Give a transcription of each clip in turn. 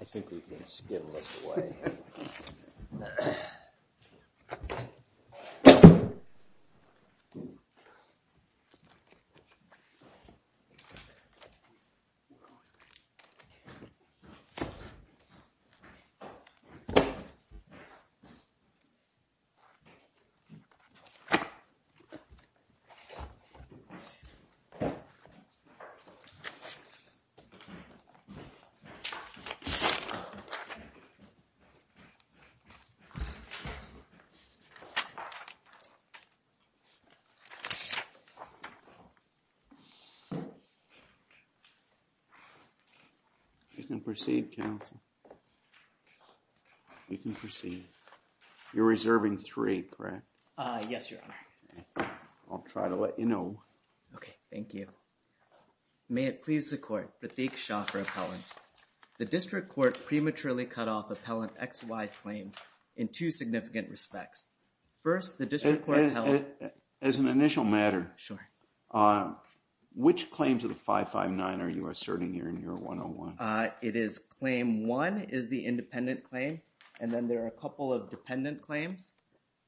I think we can skim this away. You can proceed, counsel. You can proceed. You're reserving three, correct? Yes, your honor. I'll try to let you know. Okay. Thank you. May it please the court. The district court prematurely cut off appellant XY's claim in two significant respects. First the district court held- As an initial matter, which claims of the 559 are you asserting here in your 101? It is claim one is the independent claim. And then there are a couple of dependent claims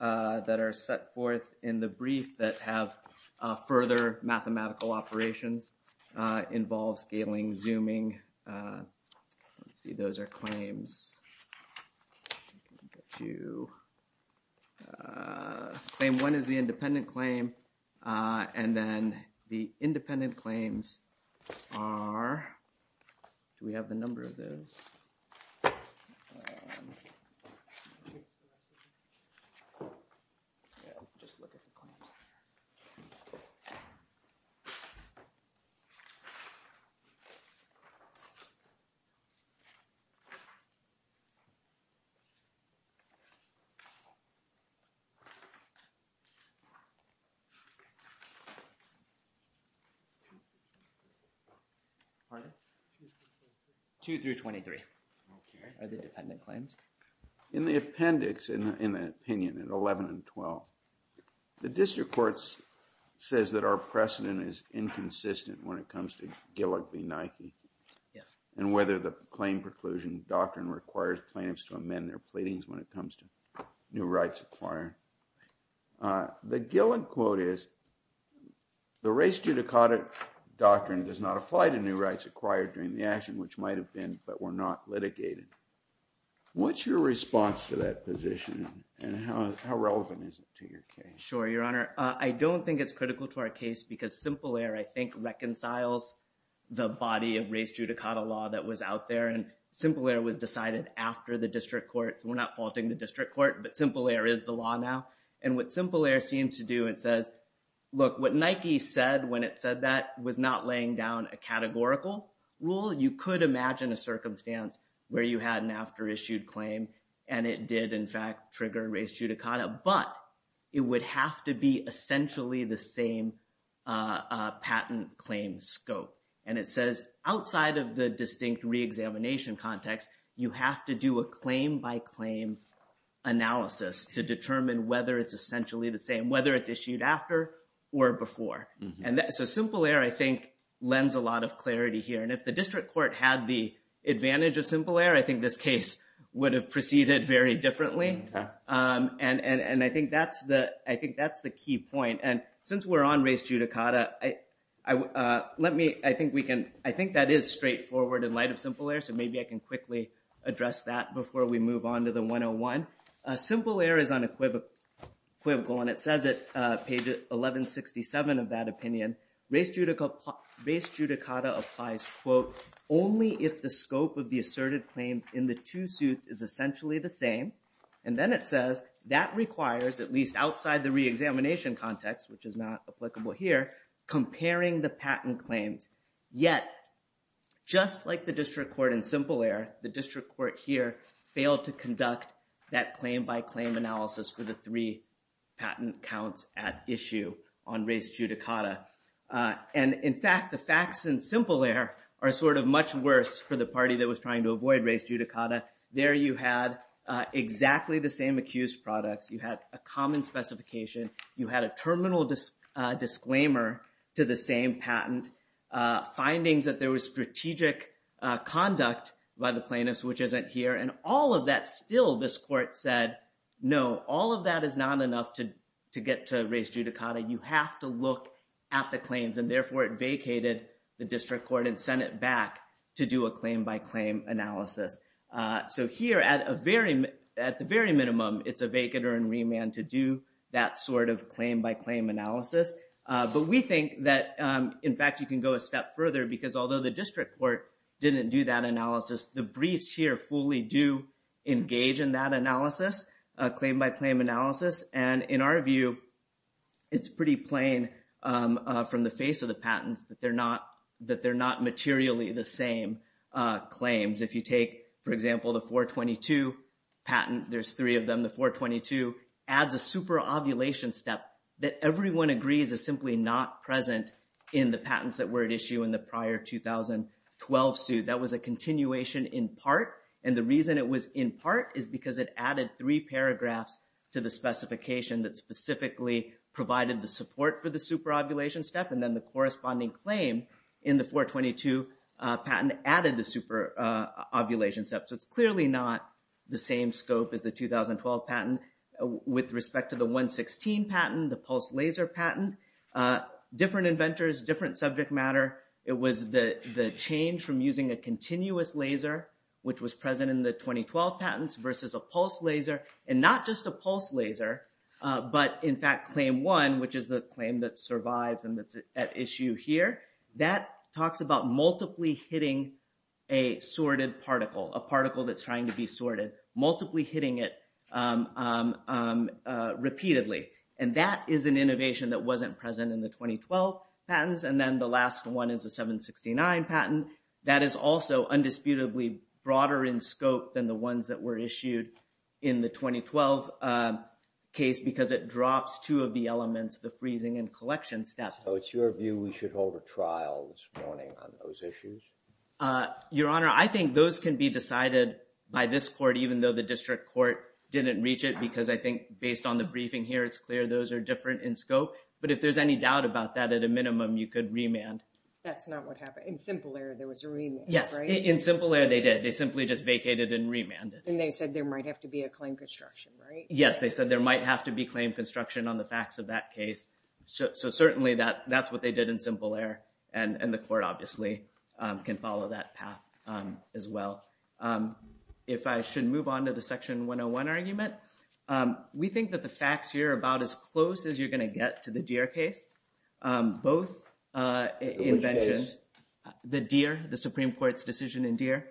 that are set forth in the brief that have further mathematical operations, involve scaling, zooming, let's see, those are claims. Claim one is the independent claim. And then the independent claims are, do we have the number of those? Yeah, I'll just look at the claims. Pardon? Two through 23. Okay. Are they dependent claims? In the appendix, in the opinion, in 11 and 12, the district court says that our precedent is inconsistent when it comes to Gillick v. Nike and whether the claim preclusion doctrine requires plaintiffs to amend their pleadings when it comes to new rights acquired. The Gillick quote is, the race judicata doctrine does not apply to new rights acquired during the action which might have been, but were not litigated. What's your response to that position and how relevant is it to your case? Sure, your honor. I don't think it's critical to our case because Simple Air, I think, reconciles the body of race judicata law that was out there. And Simple Air was decided after the district court. We're not faulting the district court, but Simple Air is the law now. And what Simple Air seems to do, it says, look, what Nike said when it said that was not laying down a categorical rule. You could imagine a circumstance where you had an after-issued claim and it did in fact trigger race judicata, but it would have to be essentially the same patent claim scope. And it says outside of the distinct reexamination context, you have to do a claim by claim analysis to determine whether it's essentially the same, whether it's issued after or before. So Simple Air, I think, lends a lot of clarity here. And if the district court had the advantage of Simple Air, I think this case would have proceeded very differently. And I think that's the key point. And since we're on race judicata, I think that is straightforward in light of Simple Air, so maybe I can quickly address that before we move on to the 101. Simple Air is unequivocal, and it says it, page 1167 of that opinion. Race judicata applies, quote, only if the scope of the asserted claims in the two suits is essentially the same. And then it says that requires, at least outside the reexamination context, which is not applicable here, comparing the patent claims. Yet, just like the district court in Simple Air, the district court here failed to conduct that claim by claim analysis for the three patent counts at issue on race judicata. And in fact, the facts in Simple Air are sort of much worse for the party that was trying to avoid race judicata. There you had exactly the same accused products. You had a common specification. You had a terminal disclaimer to the same patent. Findings that there was strategic conduct by the plaintiffs, which isn't here. And all of that, still, this court said, no, all of that is not enough to get to race judicata. You have to look at the claims. And therefore, it vacated the district court and sent it back to do a claim by claim analysis. So here, at the very minimum, it's a vacater and remand to do that sort of claim by claim analysis. But we think that, in fact, you can go a step further, because although the district court didn't do that analysis, the briefs here fully do engage in that analysis, claim by claim analysis. And in our view, it's pretty plain from the face of the patents that they're not materially the same claims. If you take, for example, the 422 patent, there's three of them. The 422 adds a superovulation step that everyone agrees is simply not present in the patents that were at issue in the prior 2012 suit. That was a continuation in part. And the reason it was in part is because it added three paragraphs to the specification that specifically provided the support for the superovulation step. And then the corresponding claim in the 422 patent added the superovulation step. So it's clearly not the same scope as the 2012 patent. With respect to the 116 patent, the pulse laser patent, different inventors, different subject matter, it was the change from using a continuous laser, which was present in the 2012 patents, versus a pulse laser. And not just a pulse laser, but, in fact, claim one, which is the claim that survives and that's at issue here, that talks about multiply hitting a sorted particle, a particle that's trying to be sorted, multiply hitting it repeatedly. And that is an innovation that wasn't present in the 2012 patents. And then the last one is the 769 patent. That is also undisputedly broader in scope than the ones that were issued in the 2012 case because it drops two of the elements, the freezing and collection steps. So it's your view we should hold a trial this morning on those issues? Your Honor, I think those can be decided by this court, even though the district court didn't reach it because I think, based on the briefing here, it's clear those are different in scope. But if there's any doubt about that, at a minimum, you could remand. That's not what happened. In Simple Air, there was a remand, right? Yes. In Simple Air, they did. They simply just vacated and remanded. And they said there might have to be a claim construction, right? Yes. They said there might have to be claim construction on the facts of that case. So certainly, that's what they did in Simple Air. And the court, obviously, can follow that path as well. So if I should move on to the Section 101 argument, we think that the facts here are about as close as you're going to get to the Deere case. Both inventions, the Supreme Court's decision in Deere,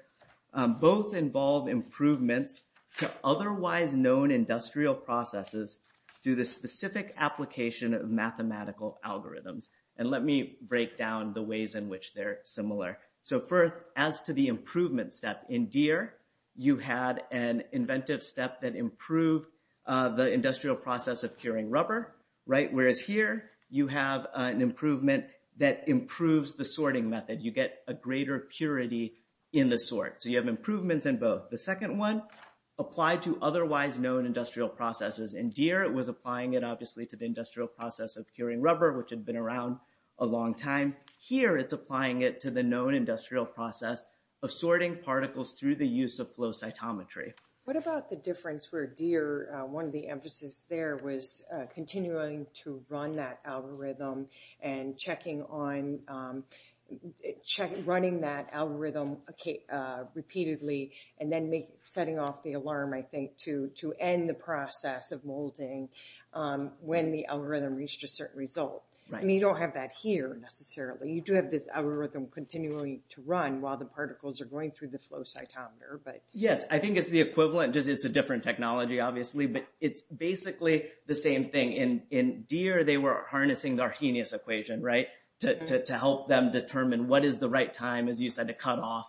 both involve improvements to otherwise known industrial processes through the specific application of mathematical algorithms. And let me break down the ways in which they're similar. So first, as to the improvement step. In Deere, you had an inventive step that improved the industrial process of curing rubber, right? Whereas here, you have an improvement that improves the sorting method. You get a greater purity in the sort. So you have improvements in both. The second one applied to otherwise known industrial processes. In Deere, it was applying it, obviously, to the industrial process of curing rubber, which had been around a long time. Here, it's applying it to the known industrial process of sorting particles through the use of flow cytometry. What about the difference where Deere, one of the emphases there, was continuing to run that algorithm and running that algorithm repeatedly and then setting off the alarm, I think, to end the process of molding when the algorithm reached a certain result? You don't have that here, necessarily. You do have this algorithm continuing to run while the particles are going through the flow cytometer. Yes, I think it's the equivalent. It's a different technology, obviously. But it's basically the same thing. In Deere, they were harnessing the Arrhenius equation to help them determine what is the right time, as you said, to cut off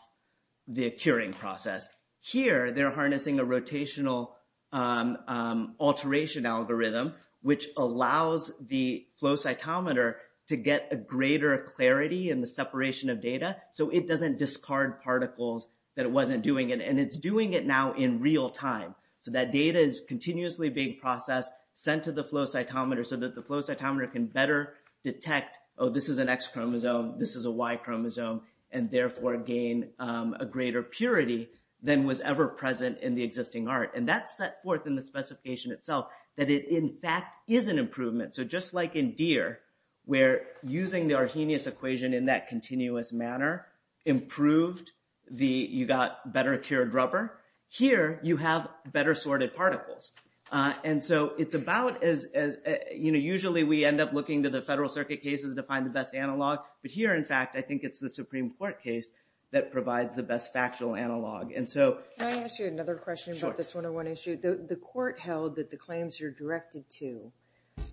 the curing process. Here, they're harnessing a rotational alteration algorithm, which allows the flow cytometer to get a greater clarity in the separation of data, so it doesn't discard particles that it wasn't doing. And it's doing it now in real time. So that data is continuously being processed, sent to the flow cytometer, so that the flow cytometer can better detect, oh, this is an X chromosome, this is a Y chromosome, and therefore gain a greater purity than was ever present in the existing art. And that's set forth in the specification itself, that it, in fact, is an improvement. So just like in Deere, where using the Arrhenius equation in that continuous manner improved the—you got better cured rubber, here you have better sorted particles. And so it's about as—usually we end up looking to the federal circuit cases to find the best analog. But here, in fact, I think it's the Supreme Court case that provides the best factual analog. And so— Can I ask you another question about this 101 issue? The court held that the claims are directed to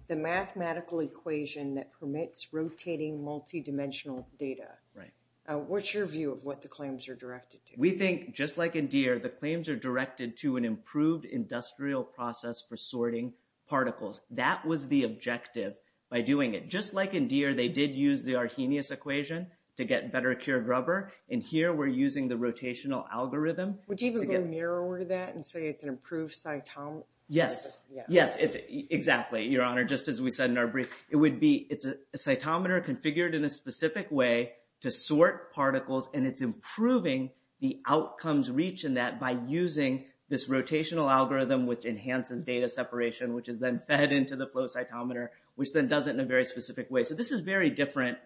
the mathematical equation that permits rotating multidimensional data. Right. What's your view of what the claims are directed to? We think, just like in Deere, the claims are directed to an improved industrial process for sorting particles. That was the objective by doing it. Just like in Deere, they did use the Arrhenius equation to get better cured rubber. And here, we're using the rotational algorithm. Would you even go narrower than that and say it's an improved cytometer? Yes. Yes, exactly, Your Honor, just as we said in our brief. It would be—it's a cytometer configured in a specific way to sort particles. And it's improving the outcomes reached in that by using this rotational algorithm, which enhances data separation, which is then fed into the flow cytometer, which then does it in a very specific way. So this is very different,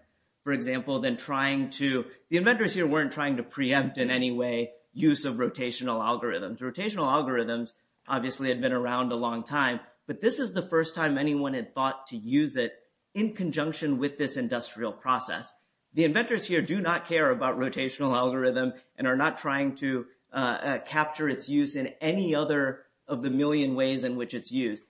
for example, than trying to—the inventors here weren't trying to preempt in any way use of rotational algorithms. Rotational algorithms obviously had been around a long time, but this is the first time anyone had thought to use it in conjunction with this industrial process. The inventors here do not care about rotational algorithm and are not trying to capture its use in any other of the million ways in which it's used.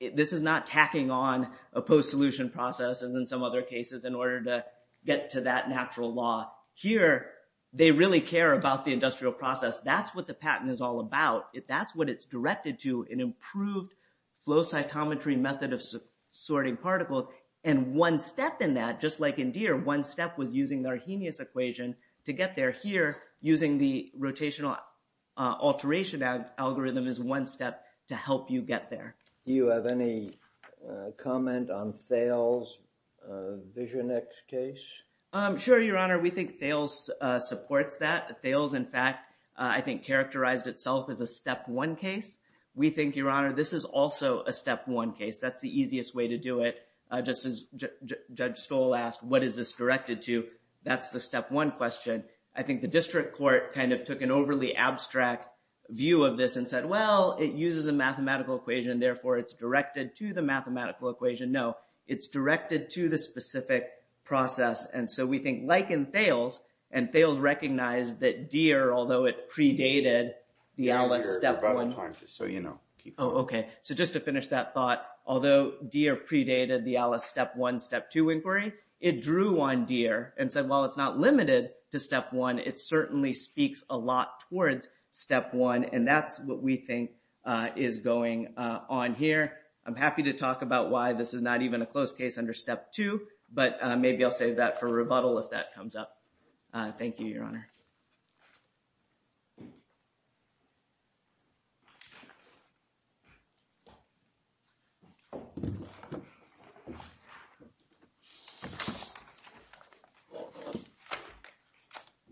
This is not tacking on a post-solution process, as in some other cases, in order to get to that natural law. Here, they really care about the industrial process. That's what the patent is all about. That's what it's directed to, an improved flow cytometry method of sorting particles. And one step in that, just like in DEER, one step was using the Arrhenius equation to get there. Here, using the rotational alteration algorithm is one step to help you get there. Do you have any comment on Thales' Vision X case? Sure, Your Honor. We think Thales supports that. Thales, in fact, I think characterized itself as a step one case. We think, Your Honor, this is also a step one case. That's the easiest way to do it. Just as Judge Stoll asked, what is this directed to? That's the step one question. I think the district court kind of took an overly abstract view of this and said, well, it uses a mathematical equation. Therefore, it's directed to the mathematical equation. No, it's directed to the specific process. And so we think, like in Thales, and Thales recognized that DEER, although it predated the Alice step one. So, you know, keep going. Oh, OK. So just to finish that thought, although DEER predated the Alice step one, step two inquiry, it drew on DEER and said, well, it's not limited to step one. It certainly speaks a lot towards step one. And that's what we think is going on here. I'm happy to talk about why this is not even a closed case under step two. But maybe I'll save that for rebuttal if that comes up. Thank you, Your Honor.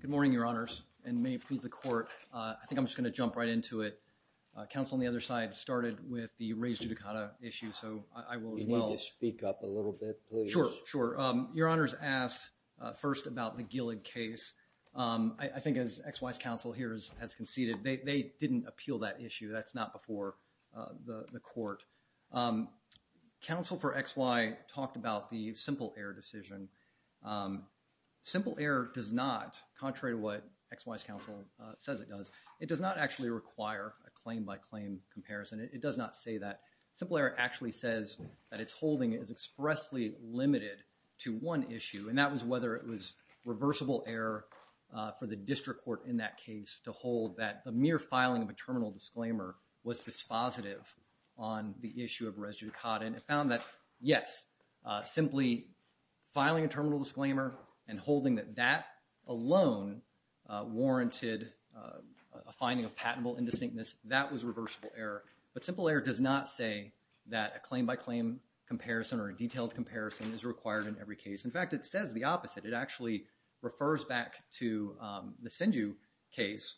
Good morning, Your Honors. And may it please the court, I think I'm just going to jump right into it. Counsel on the other side started with the raised judicata issue. So I will as well. You need to speak up a little bit, please. Sure, sure. Your Honors asked first about the Gillig case. I think as XY's counsel here has conceded, they didn't appeal that issue. That's not before the court. Counsel for XY talked about the simple error decision. Simple error does not, contrary to what XY's counsel says it does, it does not actually require a claim by claim comparison. It does not say that. Simple error actually says that its holding is expressly limited to one issue. And that was whether it was reversible error for the district court in that case to hold that the mere filing of a terminal disclaimer was dispositive on the issue of raised judicata. And it found that, yes, simply filing a terminal disclaimer and holding that that alone warranted a finding of patentable indistinctness, that was reversible error. But simple error does not say that a claim by claim comparison or a detailed comparison is required in every case. In fact, it says the opposite. It actually refers back to the Sinju case.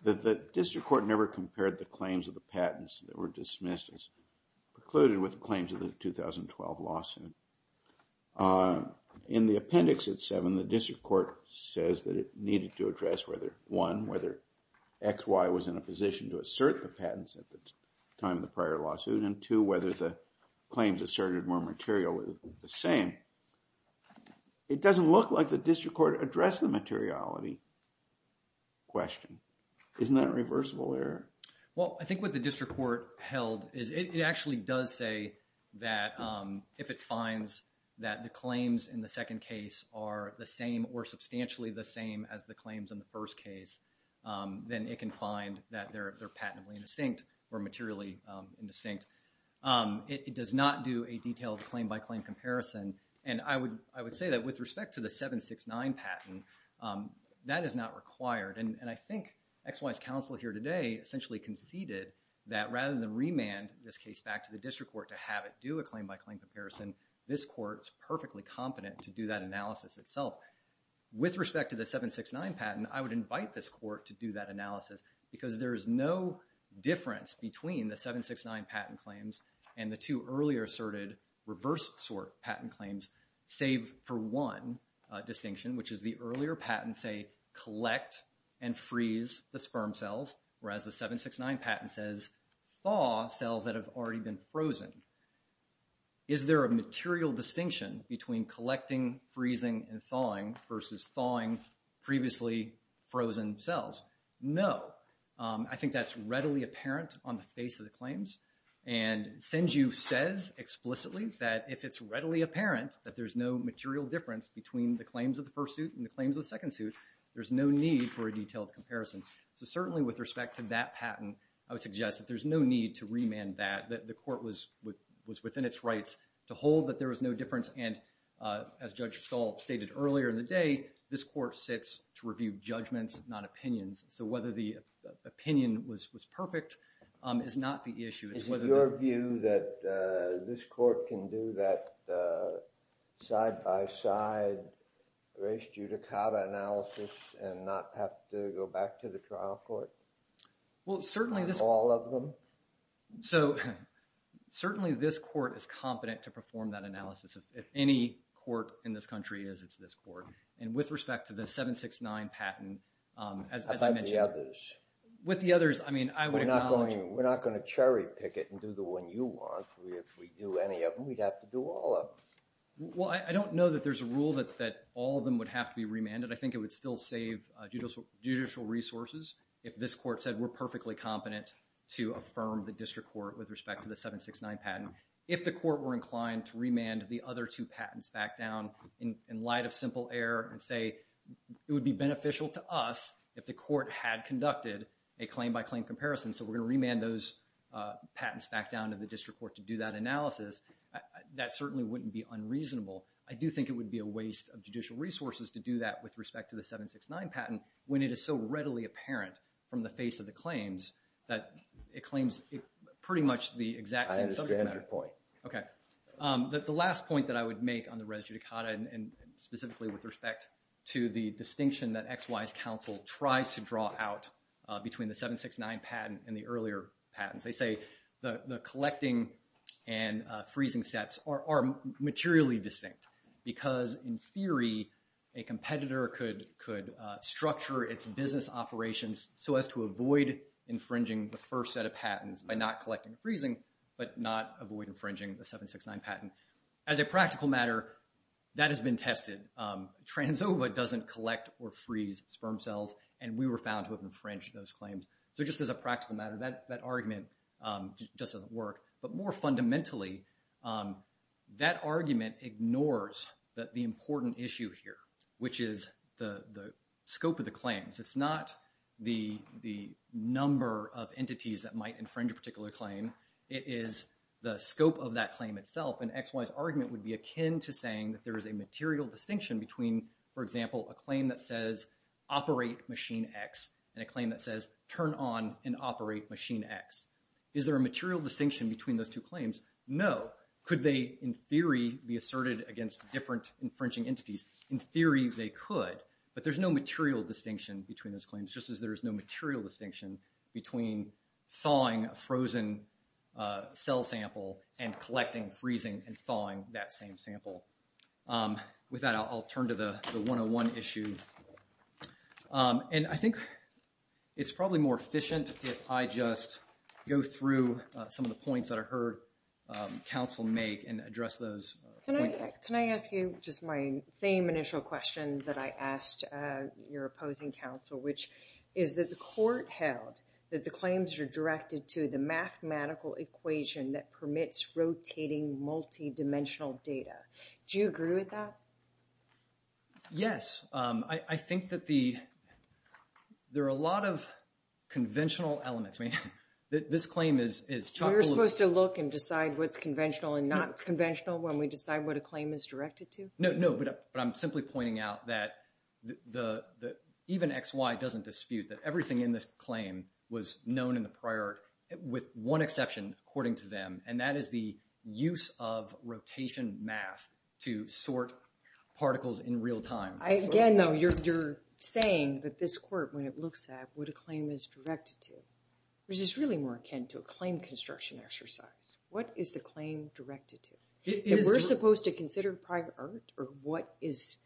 That the district court never compared the claims of the patents that were dismissed as precluded with the claims of the 2012 lawsuit. In the appendix at 7, the district court says that it needed to address whether, one, whether XY was in a position to assert the patents at the time of the prior lawsuit, and two, whether the claims asserted were materially the same. It doesn't look like the district court addressed the materiality. Isn't that reversible error? Well, I think what the district court held is it actually does say that if it finds that the claims in the second case are the same or substantially the same as the claims in the first case, then it can find that they're patently indistinct or materially indistinct. It does not do a detailed claim by claim comparison. And I would say that with respect to the 769 patent, that is not required. And I think XY's counsel here today essentially conceded that rather than remand this case back to the district court to have it do a claim by claim comparison, this court's perfectly competent to do that analysis itself. With respect to the 769 patent, I would invite this court to do that analysis because there is no difference between the 769 patent claims and the two earlier asserted reversed sort patent claims, save for one distinction, which is the earlier patent say collect and freeze the sperm cells, whereas the 769 patent says thaw cells that have already been frozen. Is there a material distinction between collecting, freezing, and thawing versus thawing previously frozen cells? No. I think that's readily apparent on the face of the claims. And Senju says explicitly that if it's readily apparent that there's no material difference between the claims of the first suit and the claims of the second suit, there's no need for a detailed comparison. So certainly with respect to that patent, I would suggest that there's no need to remand that, that the court was within its rights to hold that there was no difference. And as Judge Stahl stated earlier in the day, this court sits to review judgments, not opinions. So whether the opinion was perfect is not the issue. Is it your view that this court can do that side by side race judicata analysis and not have to go back to the trial court? So certainly this court is competent to perform that analysis. If any court in this country is, it's this court. And with respect to the 769 patent, as I mentioned, With the others, I mean, I would acknowledge- We're not going to cherry pick it and do the one you want. If we do any of them, we'd have to do all of them. Well, I don't know that there's a rule that all of them would have to be remanded. I think it would still save judicial resources if this court said, we're perfectly competent to affirm the district court with respect to the 769 patent. If the court were inclined to remand the other two patents back down in light of simple error and say, it would be beneficial to us if the court had conducted a claim by claim comparison. So we're going to remand those patents back down to the district court to do that analysis. That certainly wouldn't be unreasonable. I do think it would be a waste of judicial resources to do that with respect to the 769 patent when it is so readily apparent from the face of the claims that it claims pretty much the exact same subject matter. I understand your point. Okay. The last point that I would make on the res judicata and specifically with respect to the distinction that XY's counsel tries to draw out between the 769 patent and the earlier patents. They say the collecting and freezing steps are materially distinct because in theory, a competitor could structure its business operations so as to avoid infringing the first set of patents by not collecting and freezing, but not avoid infringing the 769 patent. As a practical matter, that has been tested. Transova doesn't collect or freeze sperm cells and we were found to have infringed those claims. So just as a practical matter, that argument just doesn't work. But more fundamentally, that argument ignores that the important issue here, which is the scope of the claims. It's not the number of entities that might infringe a particular claim. It is the scope of that claim itself. And XY's argument would be akin to saying that there is a material distinction between, for example, a claim that says operate machine X and a claim that says turn on and operate machine X. Is there a material distinction between those two claims? No. Could they, in theory, be asserted against different infringing entities? In theory, they could. But there's no material distinction between those claims, just as there is no material distinction between thawing a frozen cell sample and collecting, freezing, and thawing that same sample. With that, I'll turn to the 101 issue. And I think it's probably more efficient if I just go through some of the points that I heard counsel make and address those. Can I ask you just my same initial question that I asked your opposing counsel, which is that the court held that the claims are directed to the mathematical equation that permits rotating multidimensional data. Do you agree with that? Yes. I think that there are a lot of conventional elements. I mean, this claim is chocolate. We're supposed to look and decide what's conventional and not conventional when we decide what a claim is directed to? No, but I'm simply pointing out that even XY doesn't dispute that everything in this claim was known in the prior, with one exception, according to them, and that is the use of rotation math to sort particles in real time. Again, though, you're saying that this court, when it looks at what a claim is directed to, which is really more akin to a claim construction exercise. What is the claim directed to? We're supposed to consider prior art or what is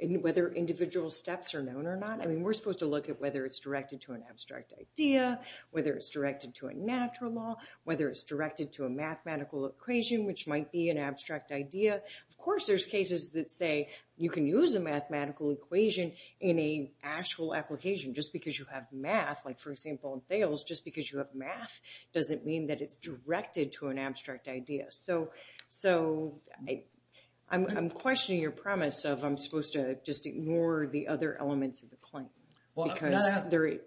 whether individual steps are known or not. I mean, we're supposed to look at whether it's directed to an abstract idea, whether it's directed to a natural law, whether it's directed to a mathematical equation, which might be an abstract idea. Of course, there's cases that say you can use a mathematical equation in a actual application just because you have math. Like, for example, in Thales, just because you have math doesn't mean that it's directed to an abstract idea. So I'm questioning your promise of, I'm supposed to just ignore the other elements of the claim because they're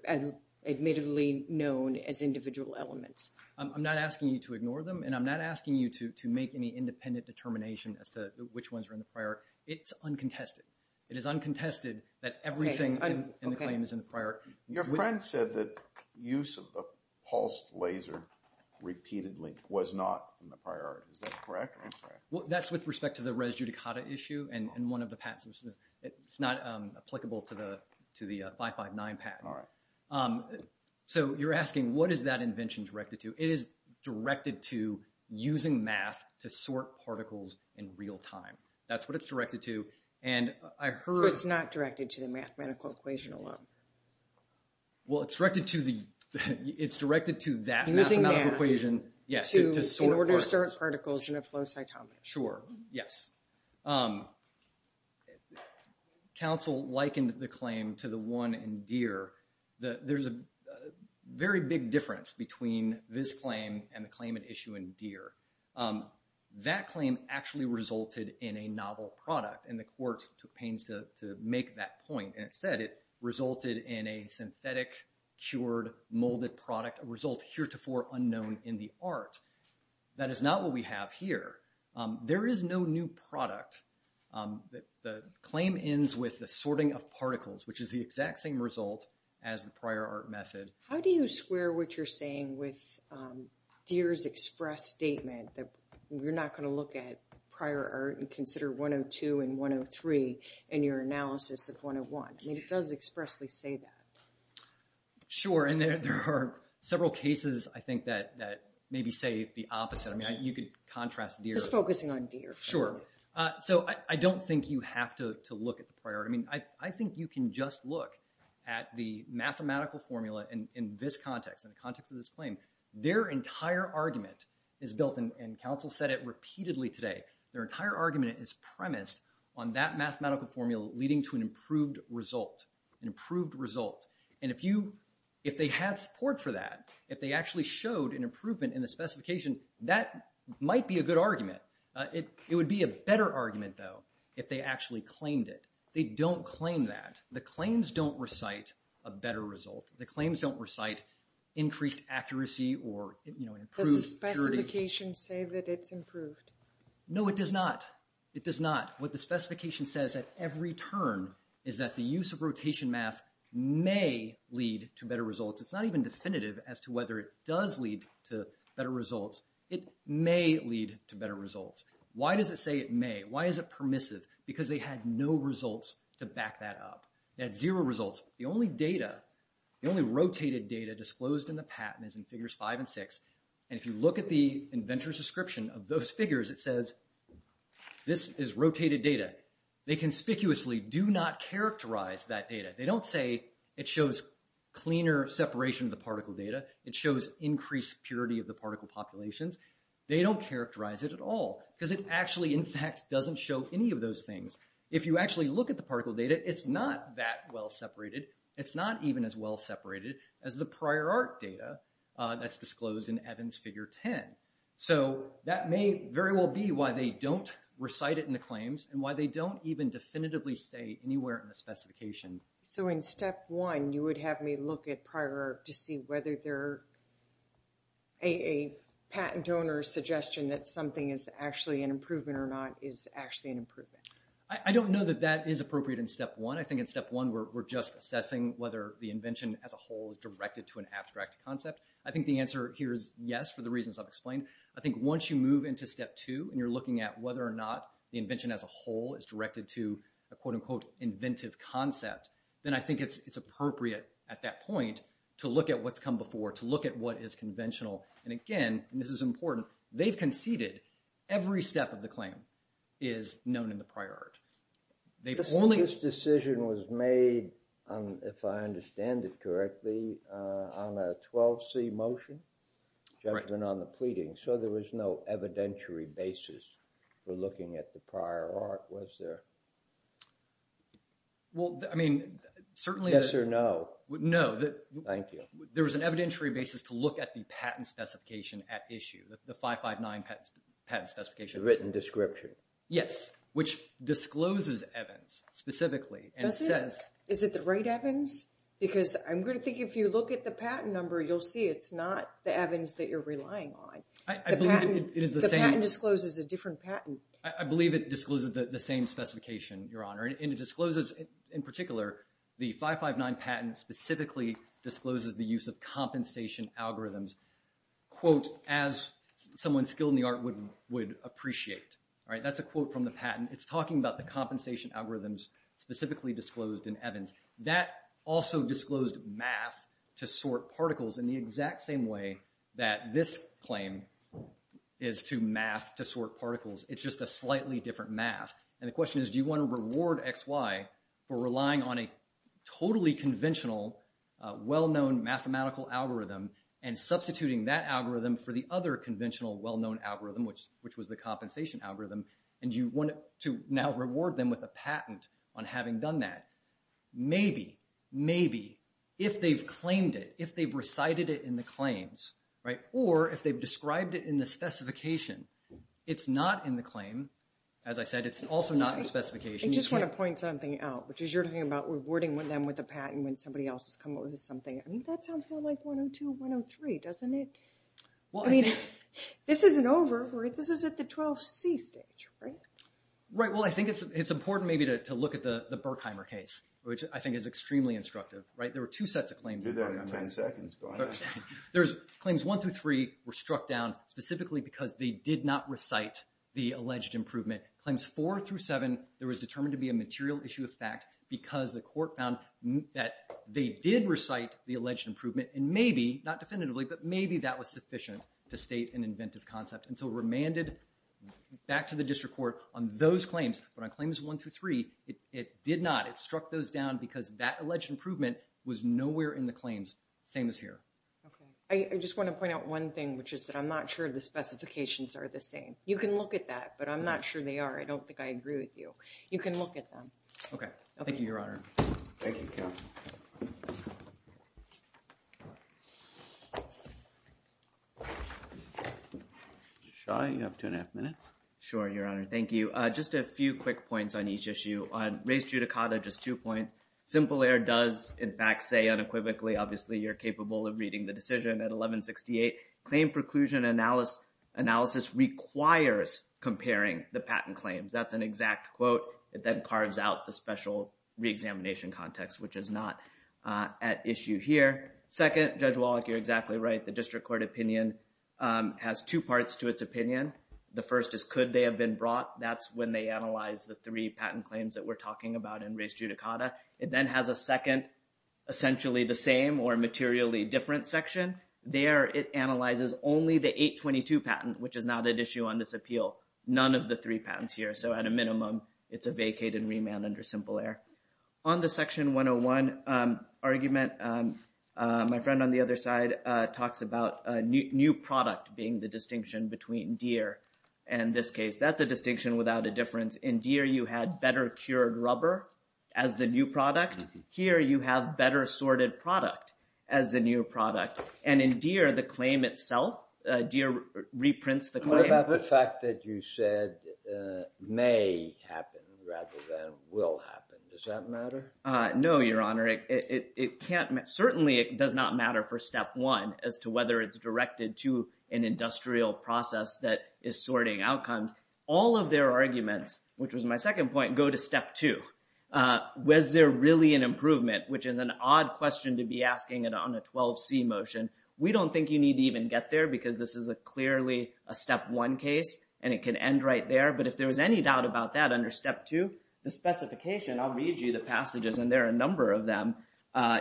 admittedly known as individual elements. I'm not asking you to ignore them, and I'm not asking you to make any independent determination as to which ones are in the prior. It's uncontested. It is uncontested that everything in the claim is in the prior. Your friend said that use of the pulse laser repeatedly was not in the prior. Is that correct or incorrect? That's with respect to the res judicata issue and one of the patents. It's not applicable to the 559 patent. All right. So you're asking, what is that invention directed to? It is directed to using math to sort particles in real time. That's what it's directed to. And I heard- So it's not directed to the mathematical equation alone? Well, it's directed to that mathematical equation- Using math to, in order to sort particles in a flow cytometer. Sure, yes. Counsel likened the claim to the one in Deere. There's a very big difference between this claim and the claim at issue in Deere. That claim actually resulted in a novel product, and the court took pains to make that point. And it said it resulted in a synthetic, cured, molded product, a result heretofore unknown in the art. That is not what we have here. There is no new product. The claim ends with the sorting of particles, which is the exact same result as the prior art method. How do you square what you're saying with Deere's express statement that you're not going to look at prior art and consider 102 and 103 in your analysis of 101? I mean, it does expressly say that. Sure, and there are several cases, I think, that maybe say the opposite. I mean, you could contrast Deere- Just focusing on Deere. Sure. So I don't think you have to look at the prior art. I mean, I think you can just look at the mathematical formula in this context, in the context of this claim. Their entire argument is built, and counsel said it repeatedly today, their entire argument is premised on that mathematical formula leading to an improved result, an improved result. And if they had support for that, if they actually showed an improvement in the specification, that might be a good argument. It would be a better argument, though, if they actually claimed it. They don't claim that. The claims don't recite a better result. The claims don't recite increased accuracy or, you know- Does the specification say that it's improved? No, it does not. It does not. What the specification says at every turn is that the use of rotation math may lead to better results. It's not even definitive as to whether it does lead to better results. It may lead to better results. Why does it say it may? Why is it permissive? Because they had no results to back that up. They had zero results. The only data, the only rotated data disclosed in the patent is in figures five and six. And if you look at the inventor's description of those figures, it says this is rotated data. They conspicuously do not characterize that data. They don't say it shows cleaner separation of the particle data. It shows increased purity of the particle populations. They don't characterize it at all because it actually, in fact, doesn't show any of those things. If you actually look at the particle data, it's not that well separated. It's not even as well separated as the prior art data that's disclosed in Evans figure 10. So that may very well be why they don't recite it in the claims and why they don't even definitively say anywhere in the specification. So in step one, you would have me look at prior art to see whether a patent donor's suggestion that something is actually an improvement or not is actually an improvement. I don't know that that is appropriate in step one. I think in step one, we're just assessing whether the invention as a whole is directed to an abstract concept. I think the answer here is yes, for the reasons I've explained. I think once you move into step two and you're looking at whether or not the invention as a whole is directed to a quote unquote inventive concept, then I think it's appropriate at that point to look at what's come before, to look at what is conventional. And again, and this is important, they've conceded every step of the claim is known in the prior art. They've only... This decision was made, if I understand it correctly, on a 12C motion, judgment on the pleading. So there was no evidentiary basis for looking at the prior art, was there? Well, I mean, certainly... Yes or no? No. Thank you. There was an evidentiary basis to look at the patent specification at issue, the 559 patent specification. The written description. Yes, which discloses Evans specifically and says... Is it the right Evans? Because I'm going to think if you look at the patent number, you'll see it's not the Evans that you're relying on. The patent discloses a different patent. I believe it discloses the same specification, Your Honor. And it discloses, in particular, the 559 patent specifically discloses the use of compensation algorithms, quote, as someone skilled in the art would appreciate. All right, that's a quote from the patent. It's talking about the compensation algorithms specifically disclosed in Evans. That also disclosed math to sort particles in the exact same way that this claim is to math to sort particles. It's just a slightly different math. And the question is, do you want to reward XY for relying on a totally conventional, well-known mathematical algorithm and substituting that algorithm for the other conventional well-known algorithm, which was the compensation algorithm. And you want to now reward them with a patent on having done that. Maybe, maybe if they've claimed it, if they've recited it in the claims, right? Or if they've described it in the specification. It's not in the claim. As I said, it's also not in the specification. I just want to point something out, which is you're talking about rewarding them with a patent when somebody else has come up with something. I mean, that sounds more like 102, 103, doesn't it? Well, I mean, this isn't over. This is at the 12C stage, right? Right. Well, I think it's important maybe to look at the Berkheimer case, which I think is extremely instructive, right? There were two sets of claims. Do that in 10 seconds. There's claims one through three were struck down specifically because they did not recite the alleged improvement. Claims four through seven, there was determined to be a material issue of fact because the court found that they did recite the alleged improvement. And maybe, not definitively, but maybe that was sufficient to state an inventive concept. And so remanded back to the district court on those claims. But on claims one through three, it did not. It struck those down because that alleged improvement was nowhere in the claims. Same as here. I just want to point out one thing, which is that I'm not sure the specifications are the same. You can look at that, but I'm not sure they are. I don't think I agree with you. You can look at them. Okay. Thank you, Your Honor. Thank you, counsel. Shah, you have two and a half minutes. Sure, Your Honor. Thank you. Just a few quick points on each issue. On race judicata, just two points. Simple error does, in fact, say unequivocally, obviously, you're capable of reading the decision at 1168. Claim preclusion analysis requires comparing the patent claims. That's an exact quote. It then carves out the special reexamination context, which is not at issue here. Second, Judge Wallach, you're exactly right. The district court opinion has two parts to its opinion. The first is, could they have been brought? That's when they analyze the three patent claims that we're talking about in race judicata. It then has a second, essentially the same or materially different section. There, it analyzes only the 822 patent, which is not at issue on this appeal. None of the three patents here. So at a minimum, it's a vacated remand under simple error. On the section 101 argument, my friend on the other side talks about new product being the distinction between deer and this case. That's a distinction without a difference. In deer, you had better cured rubber as the new product. Here, you have better sorted product as the new product. In deer, the claim itself, deer reprints the claim. What about the fact that you said may happen rather than will happen? Does that matter? No, Your Honor. Certainly, it does not matter for step one as to whether it's directed to an industrial process that is sorting outcomes. All of their arguments, which was my second point, go to step two. Was there really an improvement, which is an odd question to be asking it on a 12C motion. We don't think you need to even get there because this is clearly a step one case and it can end right there. But if there was any doubt about that under step two, the specification, I'll read you the passages and there are a number of them.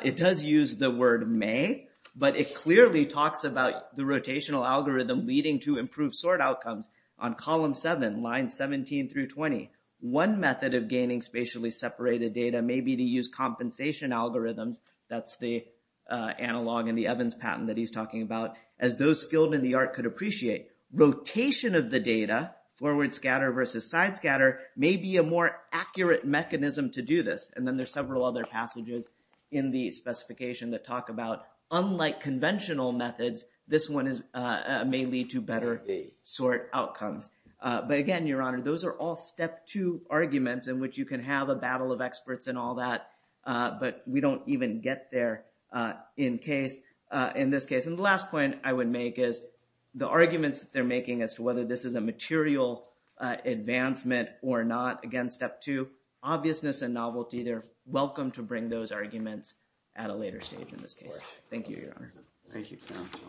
It does use the word may, but it clearly talks about the rotational algorithm leading to improved sort outcomes on column seven, line 17 through 20. One method of gaining spatially separated data may be to use compensation algorithms. That's the analog in the Evans patent that he's talking about, as those skilled in the art could appreciate. Rotation of the data, forward scatter versus side scatter, may be a more accurate mechanism to do this. And then there's several other passages in the specification that talk about unlike conventional methods, this one may lead to better sort outcomes. But again, Your Honor, those are all step two arguments in which you can have a battle of experts and all that, but we don't even get there in this case. And the last point I would make is the arguments that they're making as to whether this is a material advancement or not. Again, step two, obviousness and novelty, they're welcome to bring those arguments at a later stage in this case. Thank you, Your Honor. Thank you, counsel.